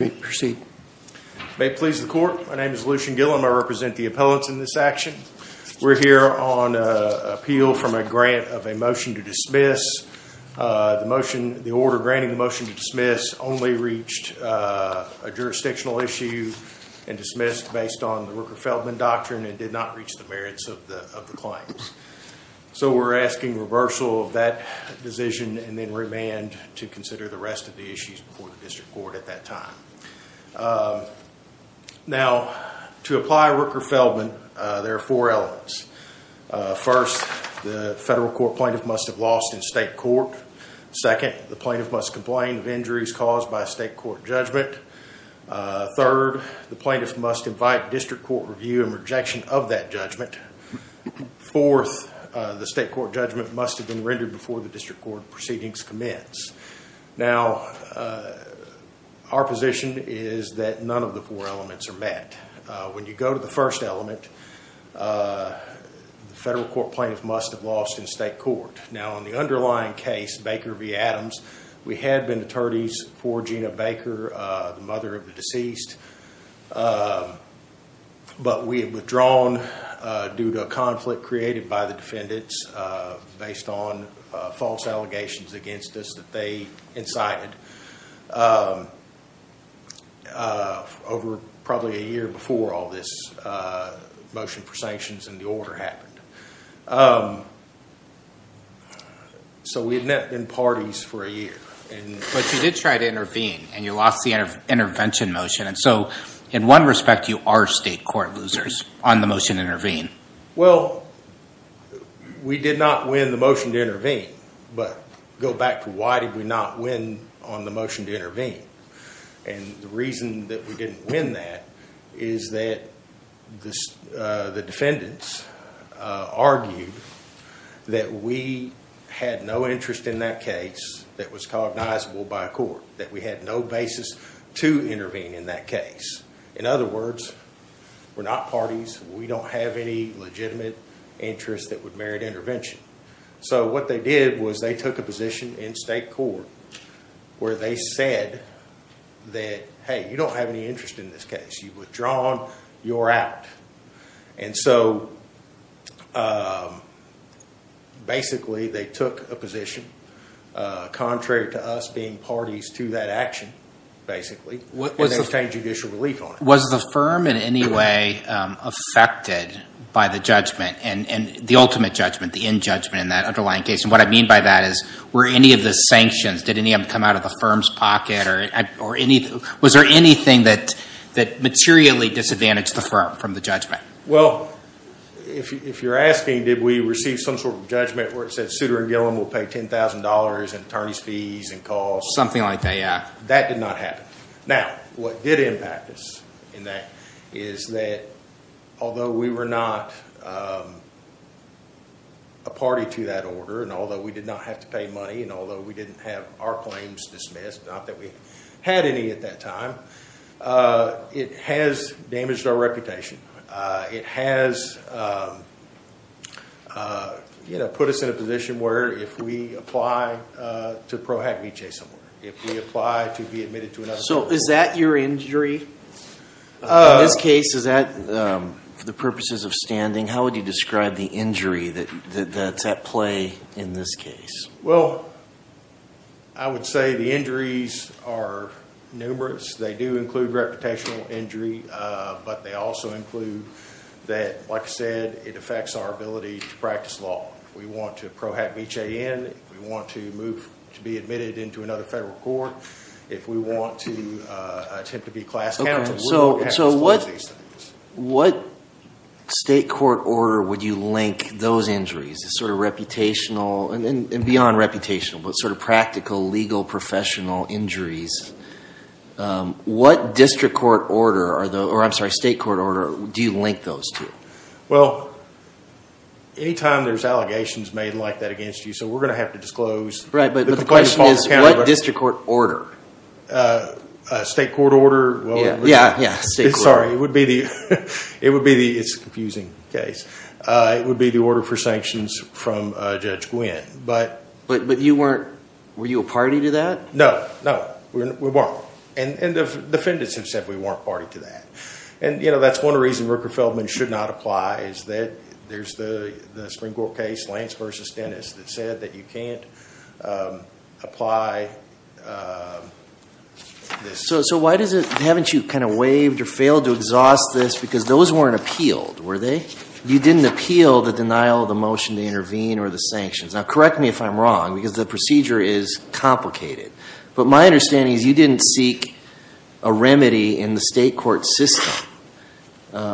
May it please the Court, my name is Lucian Gillham, I represent the appellants in this action. We're here on appeal from a grant of a motion to dismiss. The order granting the motion to dismiss only reached a jurisdictional issue and dismissed based on the Rooker-Feldman Doctrine and did not reach the merits of the claims. So we're asking reversal of that decision and then remand to consider the rest of the issues before the District Court at that time. Now to apply Rooker-Feldman there are four elements. First, the federal court plaintiff must have lost in state court. Second, the plaintiff must complain of injuries caused by a state court judgment. Third, the plaintiff must invite district court review and rejection of that judgment. Fourth, the state court judgment must have been rendered before the proceedings commence. Now our position is that none of the four elements are met. When you go to the first element, the federal court plaintiff must have lost in state court. Now in the underlying case, Baker v. Adams, we had been attorneys for Gina Baker, the mother of the deceased, but we had withdrawn due to a conflict created by the defendants based on false allegations against us that they incited. Over probably a year before all this motion for sanctions and the order happened. So we had met in parties for a year. But you did try to intervene and you lost the intervention motion. And so in one respect you are state court losers on the motion to intervene. Well, we did not win the motion to intervene. But go back to why did we not win on the motion to intervene. And the reason that we didn't win that is that the defendants argued that we had no interest in that case that was cognizable by a court. That we had no basis to intervene in that case. In other words, we're not parties. We don't have any legitimate interest that would merit intervention. So what they did was they took a position in state court where they said that, hey, you don't have any interest in this case. You've withdrawn. You're out. And so basically they took a position, contrary to us being parties to that action, basically. And they obtained judicial relief on it. Was the firm in any way affected by the judgment and the ultimate judgment, the end judgment in that underlying case? And what I mean by that is were any of the sanctions, did any of them come out of the firm's pocket or was there anything that materially disadvantaged the firm from the judgment? Well, if you're asking did we receive some sort of judgment where it said Souter and Gillum will pay $10,000 in attorney's fees and costs? Something like that, yeah. That did not happen. Now, what did impact us in that is that although we were not a party to that order and although we did not have to pay money and although we didn't have our claims dismissed, not that we had any at that time, it has damaged our reputation. It has put us in a position where if we apply to Pro Hac Vitae somewhere, if we apply to be admitted to another- So is that your injury? In this case, is that for the purposes of standing, how would you describe the injury that's at play in this case? Well, I would say the injuries are numerous. They do include reputational injury, but they also include that, like I said, it affects our ability to practice law. If we want to Pro Hac Vitae in, if we want to move to be admitted into another federal court, if we want to attempt to be class counsel, we have to disclose these things. What state court order would you link those injuries, the sort of reputational and beyond reputational, but sort of practical, legal, professional injuries? What district court order, or I'm sorry, state court order do you link those to? Well, any time there's allegations made like that against you, so we're going to have to disclose- Right, but the question is what district court order? State court order, well- Yeah, yeah, state court order. It would be the, it's a confusing case, it would be the order for sanctions from Judge Gwynn, but- But you weren't, were you a party to that? No, no, we weren't, and the defendants have said we weren't party to that, and that's one reason Rooker-Feldman should not apply, is that there's the Supreme Court case, Lance v. Dennis, that said that you can't apply this- So why doesn't, haven't you kind of waived or failed to exhaust this, because those weren't appealed, were they? You didn't appeal the denial of the motion to intervene or the sanctions. Now correct me if I'm wrong, because the procedure is complicated, but my understanding is you didn't seek a remedy in the state court system.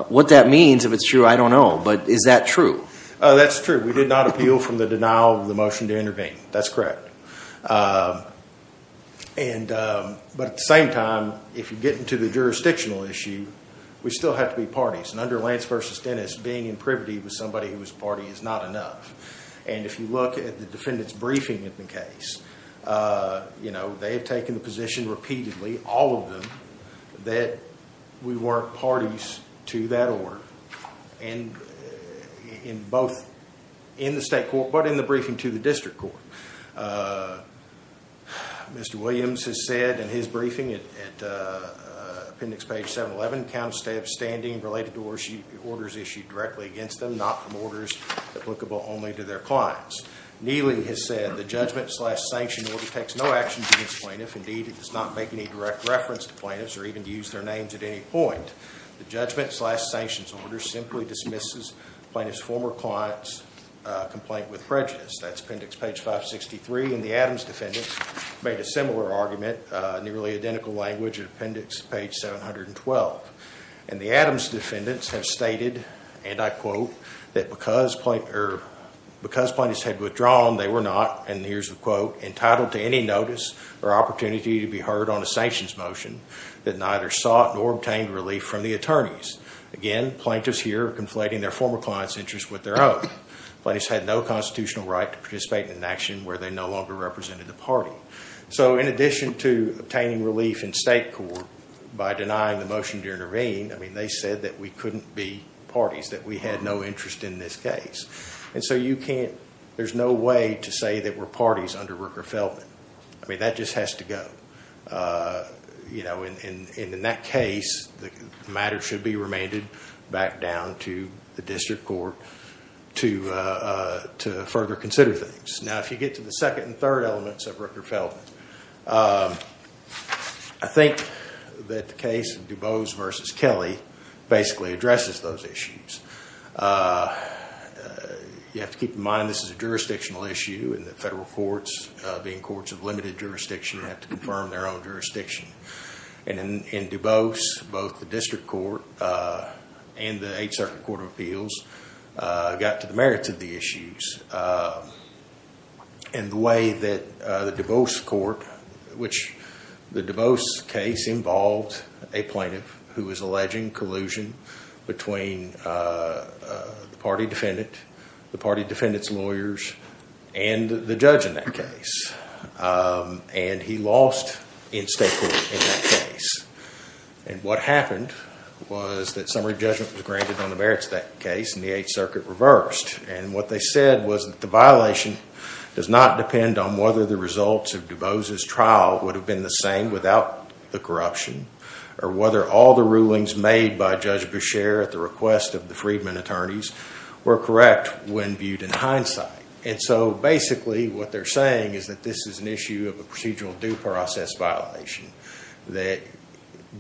What that means, if it's true, I don't know, but is that true? That's true, we did not appeal from the denial of the motion to intervene, that's correct. And, but at the same time, if you get into the jurisdictional issue, we still have to be parties, and under Lance v. Dennis, being in privity with somebody who was party is not enough. And if you look at the defendant's briefing of the case, you know, they have taken the position repeatedly, all of them, that we weren't parties to that order, and in both in the state court, but in the briefing to the district court. Mr. Williams has said in his briefing at appendix page 711, counts to have standing related to orders issued directly against them, not from orders applicable only to their clients. Neely has said the judgment slash sanction order takes no actions against plaintiffs. Indeed, it does not make any direct reference to plaintiffs, or even use their names at any point. The judgment slash sanctions order simply dismisses former clients' complaint with prejudice. That's appendix page 563. And the Adams defendants made a similar argument, nearly identical language, appendix page 712. And the Adams defendants have stated, and I quote, that because plaintiffs had withdrawn, they were not, and here's the quote, entitled to any notice or opportunity to be heard on a sanctions motion that neither sought nor obtained relief from the attorneys. Again, plaintiffs here are conflating their former client's interest with their own. Plaintiffs had no constitutional right to participate in an action where they no longer represented the party. So in addition to obtaining relief in state court by denying the motion to intervene, I mean, they said that we couldn't be parties, that we had no interest in this case. And so you can't, there's no way to say that we're parties under Rooker-Feldman. I mean, that just has to go. You know, and in that case, the matter should be remainded back down to the district court to further consider things. Now, if you get to the second and third elements of Rooker-Feldman, I think that the case of DuBose versus Kelly basically addresses those issues. You have to keep in mind this is a jurisdictional issue, and the federal courts, being courts of limited jurisdiction, have to confirm their own jurisdiction. And in DuBose, both the district court and the Eighth Circuit Court of Appeals got to the merits of the issues. And the way that the DuBose court, which the DuBose case involved a plaintiff who was alleging collusion between the party defendant, the party defendant's lawyers, and the judge in that case. And he lost in state court in that case. And what happened was that summary judgment was granted on the merits of that case, and the Eighth Circuit reversed. And what they said was that the violation does not depend on whether the results of DuBose's trial would have been the same without the corruption, or whether all the rulings made by Judge Beshear at the request of the Freedman attorneys were correct when viewed in hindsight. And so basically what they're saying is that this is an issue of a procedural due process violation that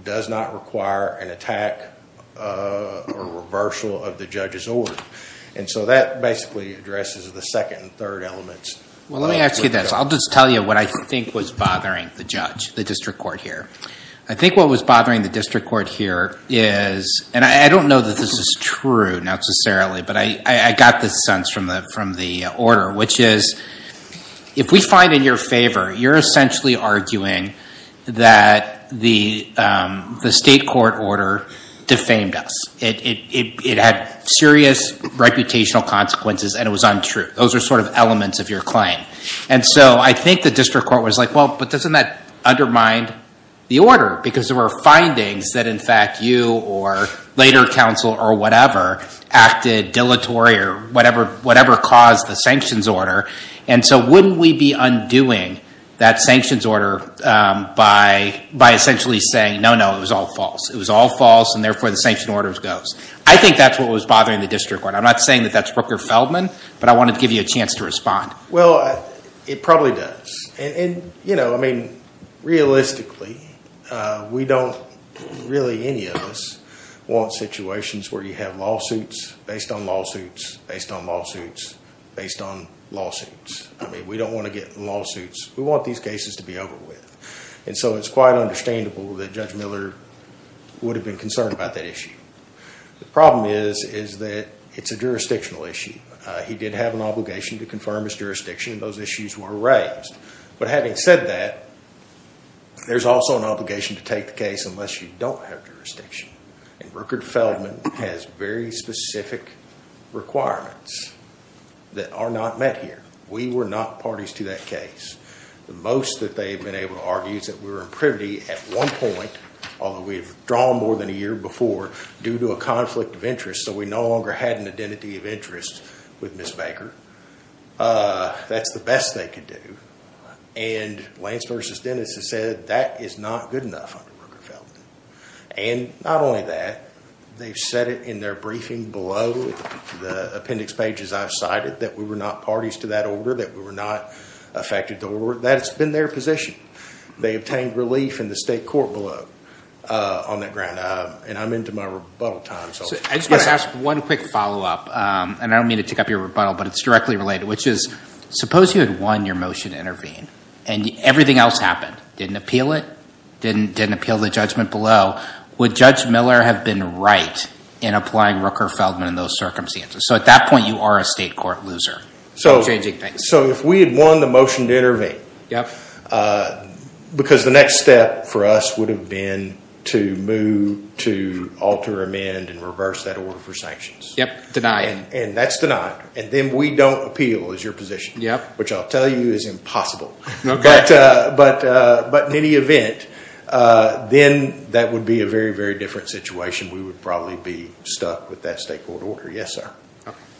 does not require an attack or reversal of the judge's order. And so that basically addresses the second and third elements. Well, let me ask you this. I'll just tell you what I think was bothering the judge, the district court here. I think what was bothering the district court here is, and I don't know that this is true necessarily, but I got this sense from the order, which is if we find in your favor, you're essentially arguing that the state court order defamed us. It had serious reputational consequences, and it was untrue. Those are sort of elements of your claim. And so I think the district court was like, well, but doesn't that undermine the order? Because there were findings that, in fact, you or later counsel or whatever acted dilatory or whatever caused the sanctions order. And so wouldn't we be undoing that sanctions order by essentially saying, no, no, it was all false. It was all false, and therefore the sanction order goes. I think that's what was bothering the district court. I'm not saying that that's Rooker-Feldman, but I want to give you a chance to respond. Well, it probably does. And realistically, we don't, really any of us, want situations where you have lawsuits based on lawsuits based on lawsuits based on lawsuits. I mean, we don't want to get lawsuits. We want these cases to be over with. And so it's quite understandable that Judge Miller would have been concerned about that issue. The problem is, is that it's a jurisdictional issue. He did have an obligation to confirm his jurisdiction. Those issues were raised. But having said that, there's also an obligation to take the case unless you don't have jurisdiction. And Rooker-Feldman has very specific requirements that are not met here. We were not parties to that case. The most that they've been able to argue is that we were in privity at one point, although we've drawn more than a year before, due to a conflict of interest. So we no longer had an identity of interest with Ms. Baker. That's the best they could do. And Lance v. Dennis has said that is not good enough under Rooker-Feldman. And not only that, they've said it in their briefing below the appendix pages I've cited, that we were not parties to that order, that we were not affected. That's been their position. They obtained relief in the state court below on that ground. And I'm into my rebuttal time. So I just want to ask one quick follow-up. And I don't mean to tick up your rebuttal, but it's directly related, which is suppose you had won your motion to intervene and everything else happened. Didn't appeal it, didn't appeal the judgment below. Would Judge Miller have been right in applying Rooker-Feldman in those circumstances? So at that point, you are a state court loser. So if we had won the motion to intervene, because the next step for us would have been to move to alter, amend, and reverse that order for sanctions. And that's denied. And then we don't appeal is your position, which I'll tell you is impossible. But in any event, then that would be a very, very different situation. We would probably be stuck with that state court order. Yes, sir.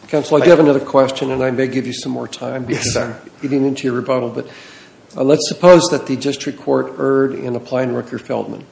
Counselor, I do have another question. And I may give you some more time because I'm getting into your rebuttal. But let's suppose that the district court erred in applying Rooker-Feldman.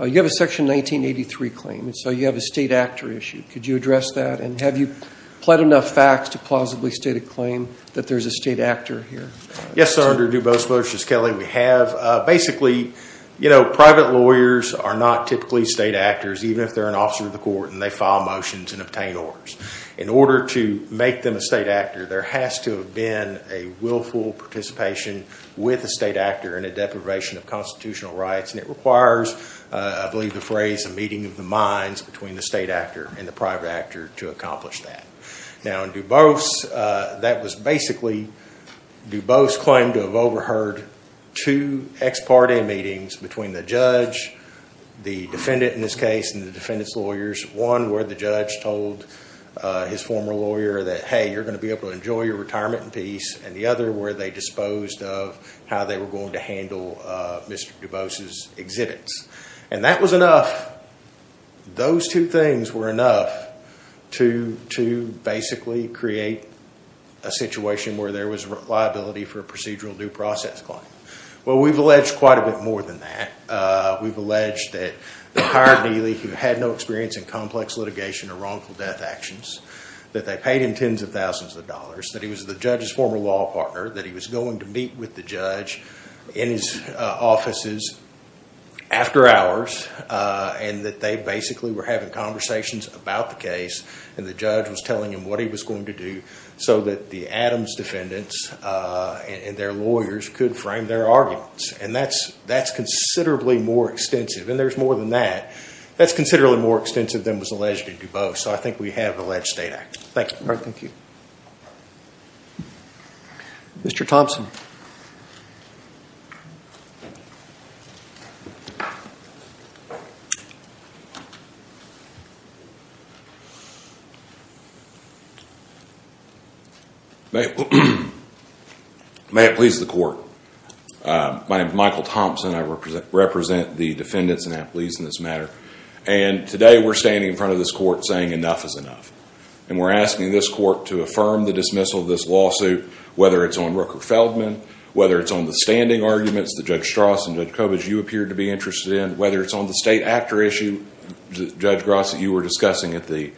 You have a section 1983 claim. So you have a state actor issue. Could you address that? And have you pled enough facts to plausibly state a claim that there's a state actor here? Yes, sir. Under DuBose motions, Kelly, we have. Basically, private lawyers are not typically state actors, even if they're an officer of the court and they file motions and obtain orders. In order to make them a state actor, there has to have been a willful participation with a state actor in a deprivation of constitutional rights. And it requires, I believe the phrase, a meeting of the minds between the state actor and the private actor to accomplish that. Now in DuBose, that was basically DuBose claimed to have overheard two ex parte meetings between the judge, the defendant in this case, and the defendant's lawyers. One where the judge told his former lawyer that, hey, you're going to be able to enjoy your retirement in peace. And the other where they disposed of how they were going to handle Mr. DuBose's exhibits. And that was enough. Those two things were enough to basically create a situation where there was reliability for a procedural due process claim. Well, we've alleged quite a bit more than that. We've alleged that they hired Neely who had no experience in complex litigation or wrongful death actions, that they paid him tens of thousands of dollars, that he was the judge's former law partner, that he was going to meet with the judge in his offices after hours, and that they basically were having conversations about the case. And the judge was telling him what he was going to do so that the Adams defendants and their lawyers could frame their arguments. And that's considerably more extensive. And there's more than that. That's considerably more extensive than was alleged in DuBose. So I think we have alleged state actor. Thank you. Mr. Thompson. May it please the court. My name is Michael Thompson. I represent the defendants and athletes in this matter. And today we're standing in front of this court saying enough is enough. And we're asking this court to affirm the dismissal of this lawsuit, whether it's on Rooker Feldman, whether it's on the standing arguments that Judge Strauss and Judge Kovacs you appeared to be interested in, whether it's on the state actor issue, Judge Gross that you were discussing at the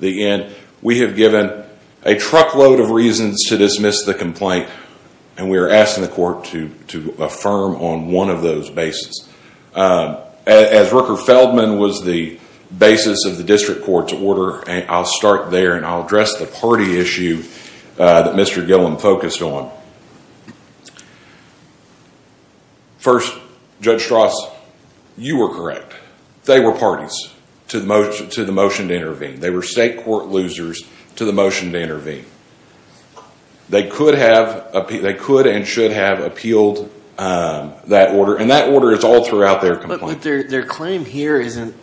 end. We have given a truckload of reasons to dismiss the complaint. And we are asking the court to affirm on one of those bases. As Rooker Feldman was the basis of the district court's order, I'll start there and I'll address the party issue that Mr. Gillum focused on. First, Judge Strauss, you were correct. They were parties to the motion to intervene. They were state court losers to the motion to intervene. They could and should have appealed that order. And that order is all throughout their complaint. But their claim here isn't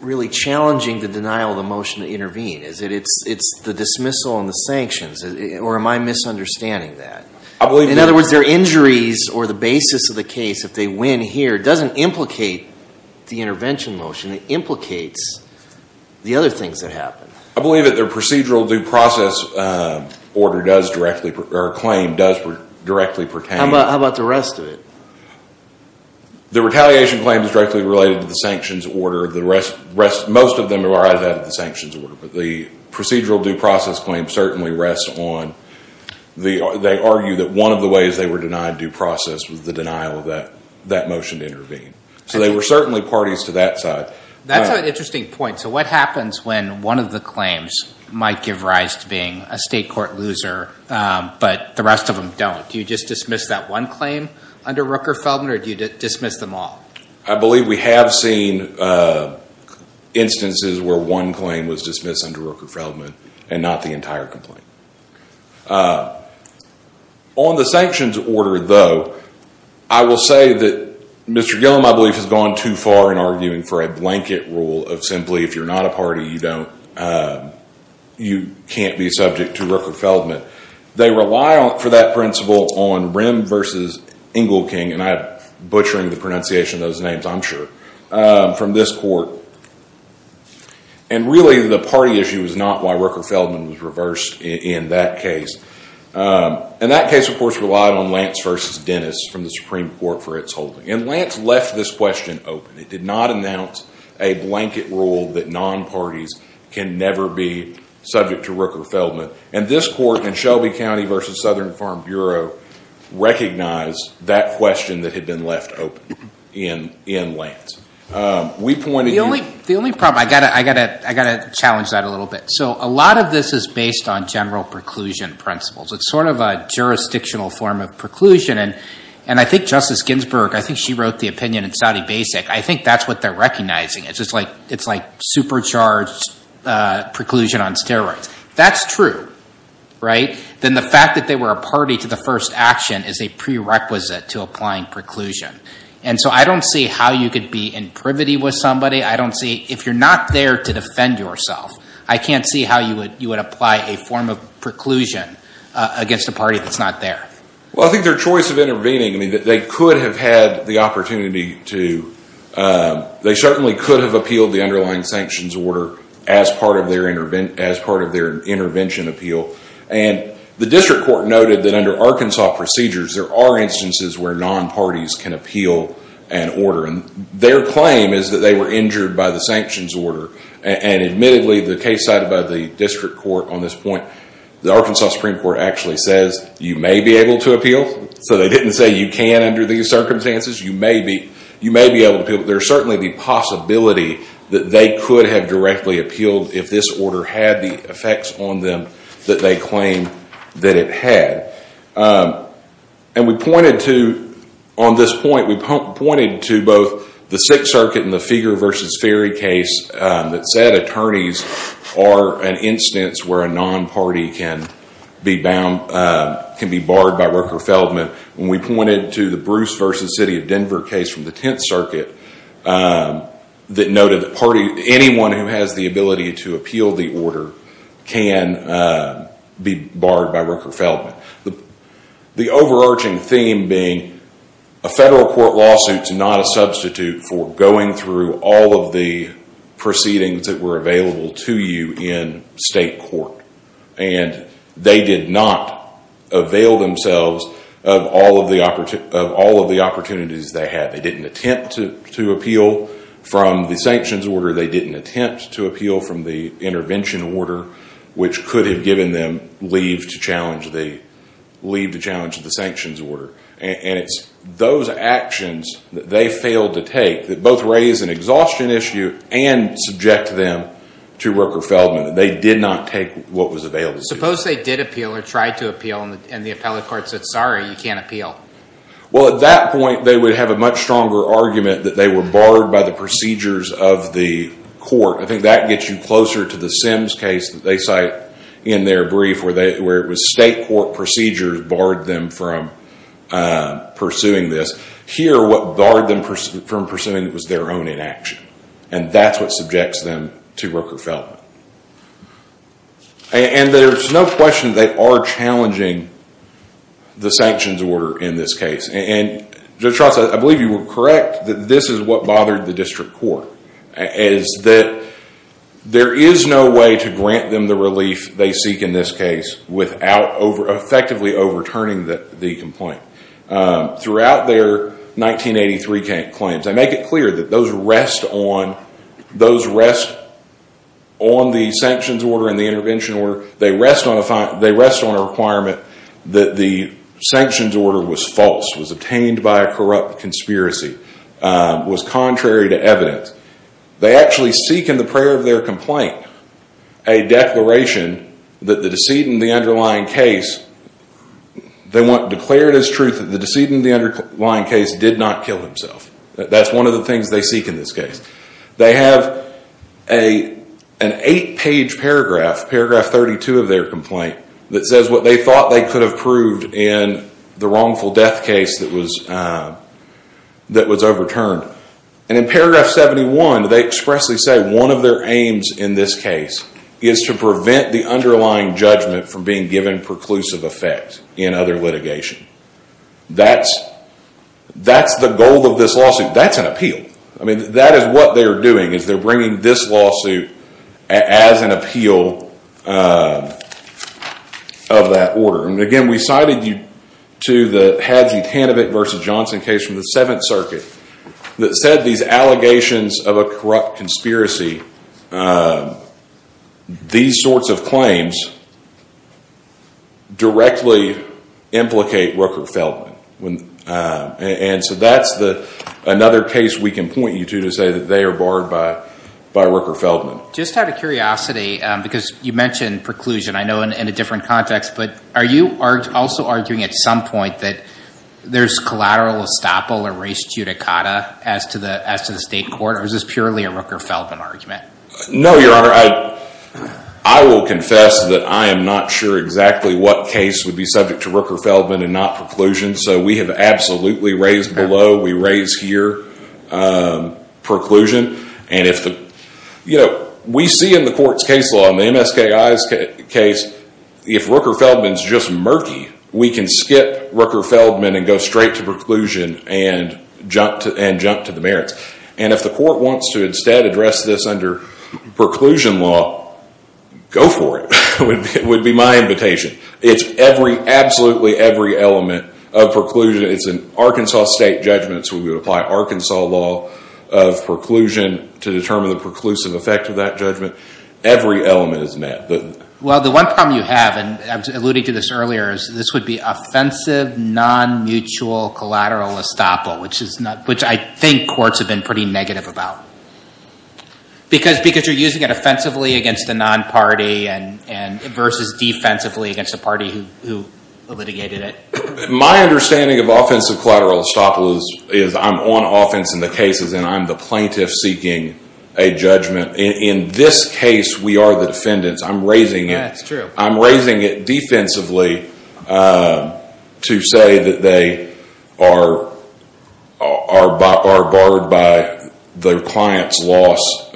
really challenging the denial of the motion to intervene. Is it it's the dismissal and the sanctions, or am I misunderstanding? In other words, their injuries or the basis of the case, if they win here, doesn't implicate the intervention motion. It implicates the other things that happen. I believe that their procedural due process order does directly or claim does directly pertain. How about the rest of it? The retaliation claim is directly related to the sanctions order. Most of them are out of the sanctions order. The procedural due process claim certainly rests on, they argue that one of the ways they were denied due process was the denial of that that motion to intervene. So they were certainly parties to that side. That's an interesting point. So what happens when one of the claims might give rise to being a state court loser, but the rest of them don't? Do you just dismiss that one claim under Rooker-Feldman or do you dismiss them all? I believe we have seen instances where one claim was dismissed under Rooker-Feldman and not the entire complaint. On the sanctions order, though, I will say that Mr. Gillum, I believe, has gone too far in arguing for a blanket rule of simply, if you're not a party, you don't, you can't be subject to Rooker-Feldman. They rely for that principle on Rim versus Engelking, and I'm butchering the pronunciation of those names, I'm sure, from this court. And really, the party issue is not why Rooker-Feldman was reversed in that case. And that case, of course, relied on Lance versus Dennis from the Supreme Court for its holding. And Lance left this question open. It did not announce a blanket rule that non-parties can never be subject to Rooker-Feldman. And this court in Shelby County versus Southern Farm Bureau recognized that question that had been left open in Lance. We pointed to- The only problem, I got to challenge that a little bit. So a lot of this is based on general preclusion principles. It's sort of a jurisdictional form of preclusion. And I think Justice Ginsburg, I think she wrote the opinion in Saudi Basic, I think that's what they're recognizing. It's like supercharged preclusion on steroids. That's true, right? Then the fact that they were a party to the first action is a prerequisite to applying preclusion. And so I don't see how you could be in privity with somebody. I don't see- If you're not there to defend yourself, I can't see how you would apply a form of preclusion against a party that's not there. Well, I think their choice of intervening, I mean, they could have had the opportunity to- They certainly could have appealed the underlying sanctions order as part of their intervention appeal. And the district court noted that under Arkansas procedures, there are instances where non-parties can appeal an order. And their claim is that they were injured by the sanctions order. And admittedly, the case cited by the district court on this point, the Arkansas Supreme Court actually says you may be able to appeal. So they didn't say you can under these circumstances. You may be able to appeal. There's certainly the possibility that they could have directly appealed if this order had the effects on them that they claim that it had. And we pointed to- On this point, we pointed to both the Sixth Circuit and the Feger versus Ferry case that said attorneys are an instance where a non-party can be bound- can be barred by worker feldman. When we pointed to the Bruce versus City of Denver case from the Tenth Circuit that noted that anyone who has the ability to appeal the order can be barred by worker feldman. The overarching theme being a federal court lawsuit is not a substitute for going through all of the proceedings that were available to you in state court. And they did not avail themselves of all of the opportunities they had. They didn't attempt to appeal from the sanctions order. They didn't attempt to appeal from the intervention order, which could have given them leave to challenge the sanctions order. And it's those actions that they failed to take that both raise an exhaustion issue and subject them to worker feldman. They did not take what was available to them. Suppose they did appeal or tried to appeal and the appellate court said, sorry, you can't appeal. Well, at that point, they would have a much stronger argument that they were barred by the procedures of the court. I think that gets you closer to the Sims case that they cite in their brief where it was state court procedures barred them from pursuing this. Here, what barred them from pursuing it was their own inaction. And that's what subjects them to worker feldman. And there's no question they are challenging the sanctions order in this case. And Judge Trost, I believe you were correct that this is what bothered the district court, is that there is no way to grant them the relief they seek in this case without effectively overturning the complaint. Throughout their 1983 claims, I make it clear that those rest on those rest on the sanctions order and the intervention order. They rest on a requirement that the sanctions order was false, was obtained by a corrupt conspiracy, was contrary to evidence. They actually seek in the prayer of their complaint, a declaration that the decedent in the underlying case, they want declared as truth that the decedent in the underlying case did not kill himself. That's one of the things they seek in this case. They have an eight-page paragraph, paragraph 32 of their complaint, that says what they thought they could have proved in the wrongful death case that was overturned. And in paragraph 71, they expressly say one of their aims in this case is to prevent the underlying judgment from being given preclusive effect in other litigation. That's the goal of this lawsuit. That's an appeal. That is what they're doing, is they're bringing this lawsuit as an appeal of that order. Again, we cited you to the Hadley-Hannovick versus Johnson case from the Seventh Circuit that said these allegations of a corrupt conspiracy, these sorts of claims directly implicate Rooker-Feldman. And so that's another case we can point you to, to say that they are barred by Rooker-Feldman. Just out of curiosity, because you mentioned preclusion, I know in a different context, but are you also arguing at some point that there's collateral estoppel or res judicata as to the state court, or is this purely a Rooker-Feldman argument? No, Your Honor. I will confess that I am not sure exactly what case would be subject to Rooker-Feldman and not preclusion, so we have absolutely raised below. We raise here preclusion. We see in the court's case law, in the MSKI's case, if Rooker-Feldman's just murky, we can skip Rooker-Feldman and go straight to preclusion and jump to the merits. And if the court wants to instead address this under preclusion law, go for it. It would be my invitation. It's every, absolutely every element of preclusion. It's an Arkansas state judgment, so we would apply Arkansas law of preclusion to determine the preclusive effect of that judgment. Every element is met. Well, the one problem you have, and I was alluding to this earlier, is this would be offensive non-mutual collateral estoppel, which I think courts have been pretty negative about. Because you're using it offensively against a non-party versus defensively against a party who litigated it. My understanding of offensive collateral estoppel is I'm on offense in the cases and I'm the plaintiff seeking a judgment. In this case, we are the defendants. I'm raising it. That's true. I'm raising it defensively to say that they are barred by their client's loss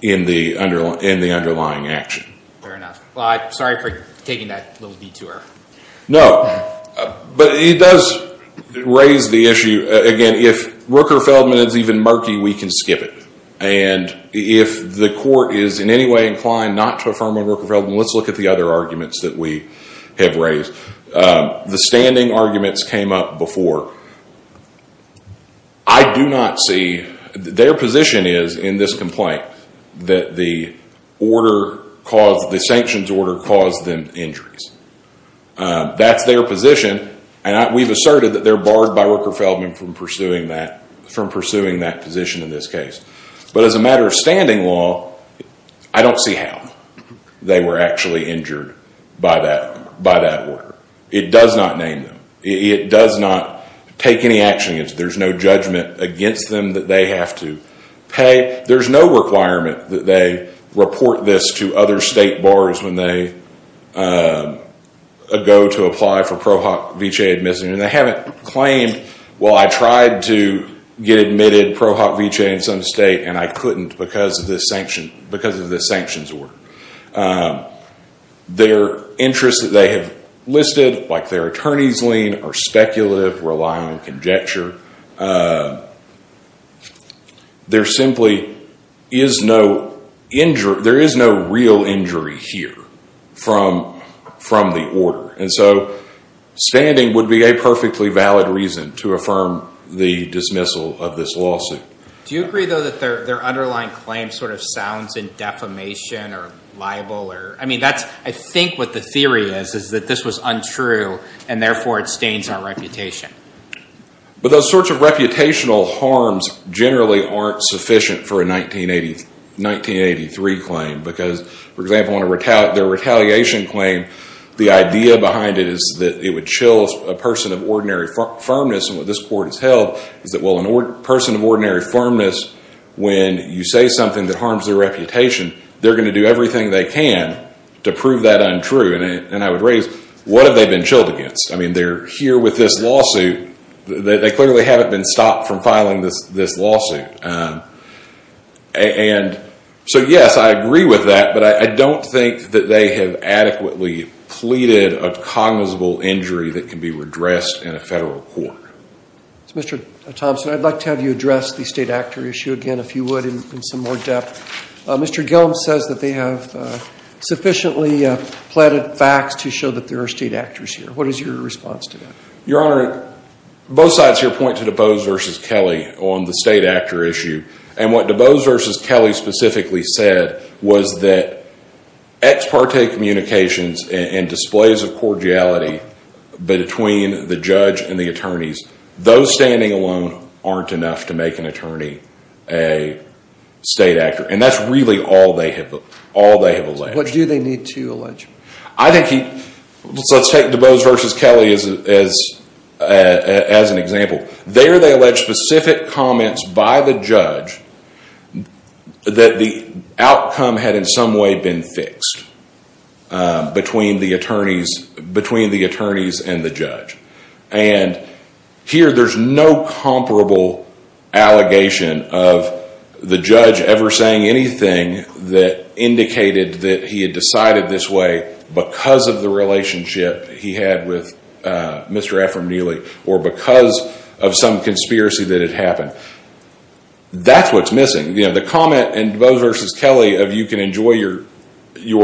in the underlying action. Fair enough. Sorry for taking that little detour. No, but it does raise the issue. Again, if Rooker-Feldman is even murky, we can skip it. If the court is in any way inclined not to affirm on Rooker-Feldman, let's look at the other arguments that we have raised. The standing arguments came up before. I do not see, their position is in this complaint, that the sanctions order caused them injuries. That's their position and we've asserted that they're barred by Rooker-Feldman from pursuing that position in this case. But as a matter of standing law, I don't see how they were actually injured by that order. It does not name them. It does not take any action against them. There's no judgment against them that they have to pay. There's no requirement that they report this to other state bars when they go to apply for PROHOC-VCHA admission. They haven't claimed, well, I tried to get admitted PROHOC-VCHA in some state and I couldn't because of this sanctions order. Their interests that they have listed, like their attorney's lien, are speculative, relying on conjecture. There simply is no injury, there is no real injury here from the order. And so, standing would be a perfectly valid reason to affirm the dismissal of this lawsuit. Do you agree, though, that their underlying claim sort of sounds in defamation or libel or, I mean, that's, I think what the theory is, is that this was untrue and therefore it stains our reputation. But those sorts of reputational harms generally aren't sufficient for a 1983 claim. Because, for example, on their retaliation claim, the idea behind it is that it would chill a person of ordinary firmness. And what this court has held is that, well, a person of ordinary firmness, when you say something that harms their reputation, they're going to do everything they can to prove that untrue. And I would raise, what have they been chilled against? I mean, they're here with this lawsuit. They clearly haven't been stopped from filing this lawsuit. And so, yes, I agree with that. But I don't think that they have adequately pleaded a cognizable injury that can be redressed in a federal court. Mr. Thompson, I'd like to have you address the state actor issue again, if you would, in some more depth. Mr. Gilm says that they have sufficiently pleaded facts to show that there are state actors here. What is your response to that? Your Honor, both sides here point to DeBose versus Kelly on the state actor issue. And what DeBose versus Kelly specifically said was that ex parte communications and displays of cordiality between the judge and the attorneys, those standing alone aren't enough to make an attorney a state actor. And that's really all they have alleged. What do they need to allege? I think he, let's take DeBose versus Kelly as an example. There they allege specific comments by the judge that the outcome had in some way been fixed between the attorneys and the judge. And here there's no comparable allegation of the judge ever saying anything that indicated that he had decided this way because of the relationship he had with Mr. Ephraim Neely or because of some conspiracy that had happened. That's what's missing. You know, the comment in DeBose versus Kelly of you can enjoy your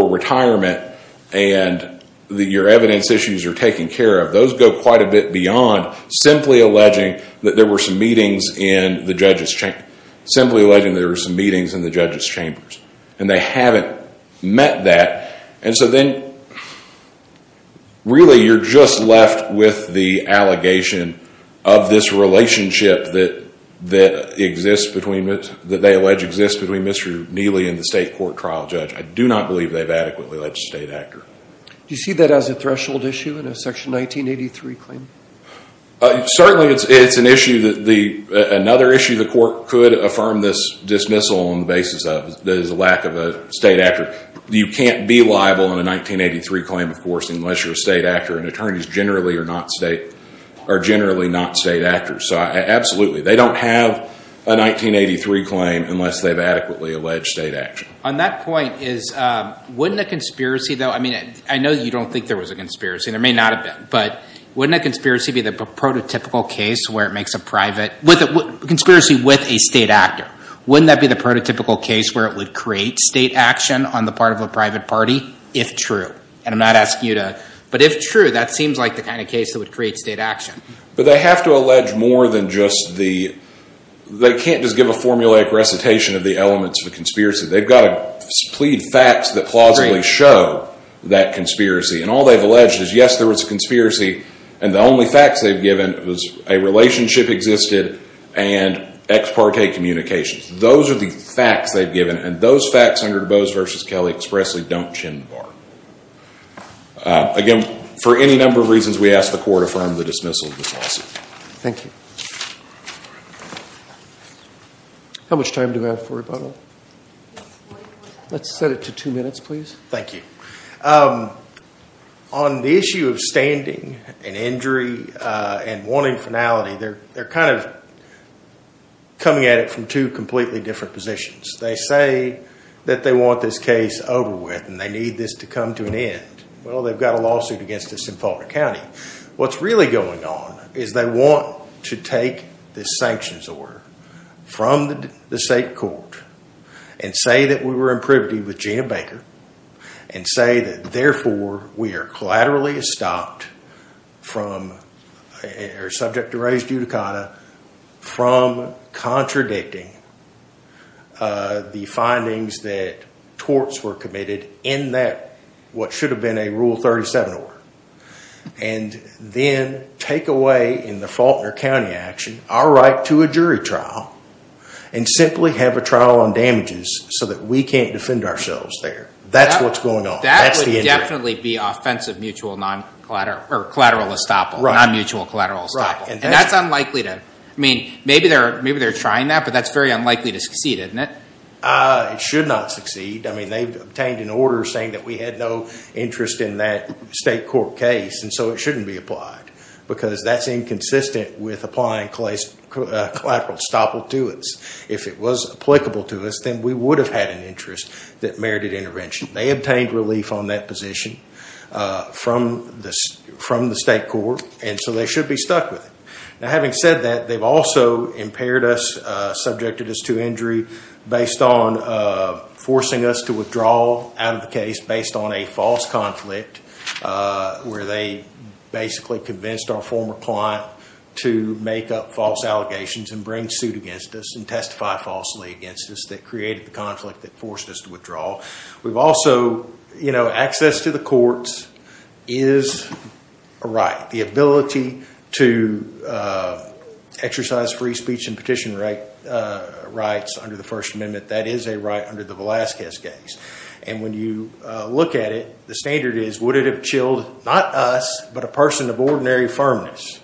retirement and that your evidence issues are taken care of, those go quite a bit beyond simply alleging that there were some meetings in the judge's chamber, simply alleging there were some meetings in the judge's chambers. And they haven't met that. And so then really you're just left with the allegation of this relationship that exists between, that they allege exists between Mr. Neely and the state court trial judge. I do not believe they've adequately alleged a state actor. Do you see that as a threshold issue in a section 1983 claim? Certainly it's an issue that the, another issue the court could affirm this dismissal on the basis of is the lack of a state actor. You can't be liable in a 1983 claim, of course, unless you're a state actor. And attorneys generally are not state, are generally not state actors. So absolutely, they don't have a 1983 claim unless they've adequately alleged state action. On that point, wouldn't a conspiracy though, I mean, I know you don't think there was a conspiracy, there may not have been, but wouldn't a conspiracy be the prototypical case where it makes a private, conspiracy with a state actor? Wouldn't that be the prototypical case where it would create state action on the part of a private party, if true? And I'm not asking you to, but if true, that seems like the kind of case that would create state action. But they have to allege more than just the, they can't just give a formulaic recitation of the elements of a conspiracy. They've got to plead facts that plausibly show that conspiracy. And all they've alleged is, yes, there was a conspiracy. And the only facts they've given was a relationship existed and ex parte communications. Those are the facts they've given. And those facts under DeBose v. Kelly expressly don't chin the bar. Again, for any number of reasons, we ask the court affirm the dismissal of this lawsuit. Thank you. How much time do we have for rebuttal? Let's set it to two minutes, please. Thank you. Um, on the issue of standing and injury, uh, and wanting finality, they're, they're kind of coming at it from two completely different positions. They say that they want this case over with, and they need this to come to an end. Well, they've got a lawsuit against us in Faulkner County. What's really going on is they want to take this sanctions order from the state court and say that we were in privity with Gina Baker and say that therefore we are collaterally estopped from, or subject to res judicata from contradicting, uh, the findings that torts were committed in that, what should have been a rule 37 order. And then take away in the Faulkner County action, our right to a jury trial and simply have a trial on damages so that we can't defend ourselves there. That's what's going on. That would definitely be offensive mutual non collateral or collateral estoppel, non mutual collateral estoppel. And that's unlikely to, I mean, maybe they're, maybe they're trying that, but that's very unlikely to succeed, isn't it? Uh, it should not succeed. I mean, they've obtained an order saying that we had no interest in that state court case. And so it shouldn't be applied because that's inconsistent with applying collateral estoppel to us. If it was applicable to us, then we would have had an interest that merited intervention. They obtained relief on that position, uh, from the, from the state court. And so they should be stuck with it. Now, having said that they've also impaired us, uh, subjected us to injury based on, uh, forcing us to withdraw out of the case based on a false conflict, uh, where they basically convinced our former client to make up false allegations and bring suit against us and testify falsely against us that created the conflict that forced us to withdraw. We've also, you know, access to the courts is a right. The ability to, uh, exercise free speech and petition right, uh, rights under the first amendment, that is a right under the Velazquez case. And when you, uh, look at it, the standard is, would it have chilled not us, but a person of ordinary firmness?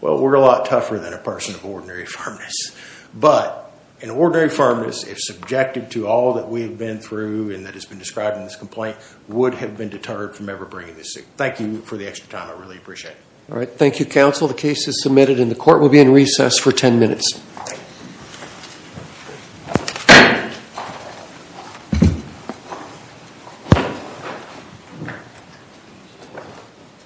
Well, we're a lot tougher than a person of ordinary firmness, but an ordinary firmness, if subjected to all that we've been through and that has been described in this complaint would have been deterred from ever bringing this. Thank you for the extra time. I really appreciate it. All right. Thank you, counsel. The case is submitted and the court will be in recess for 10 minutes.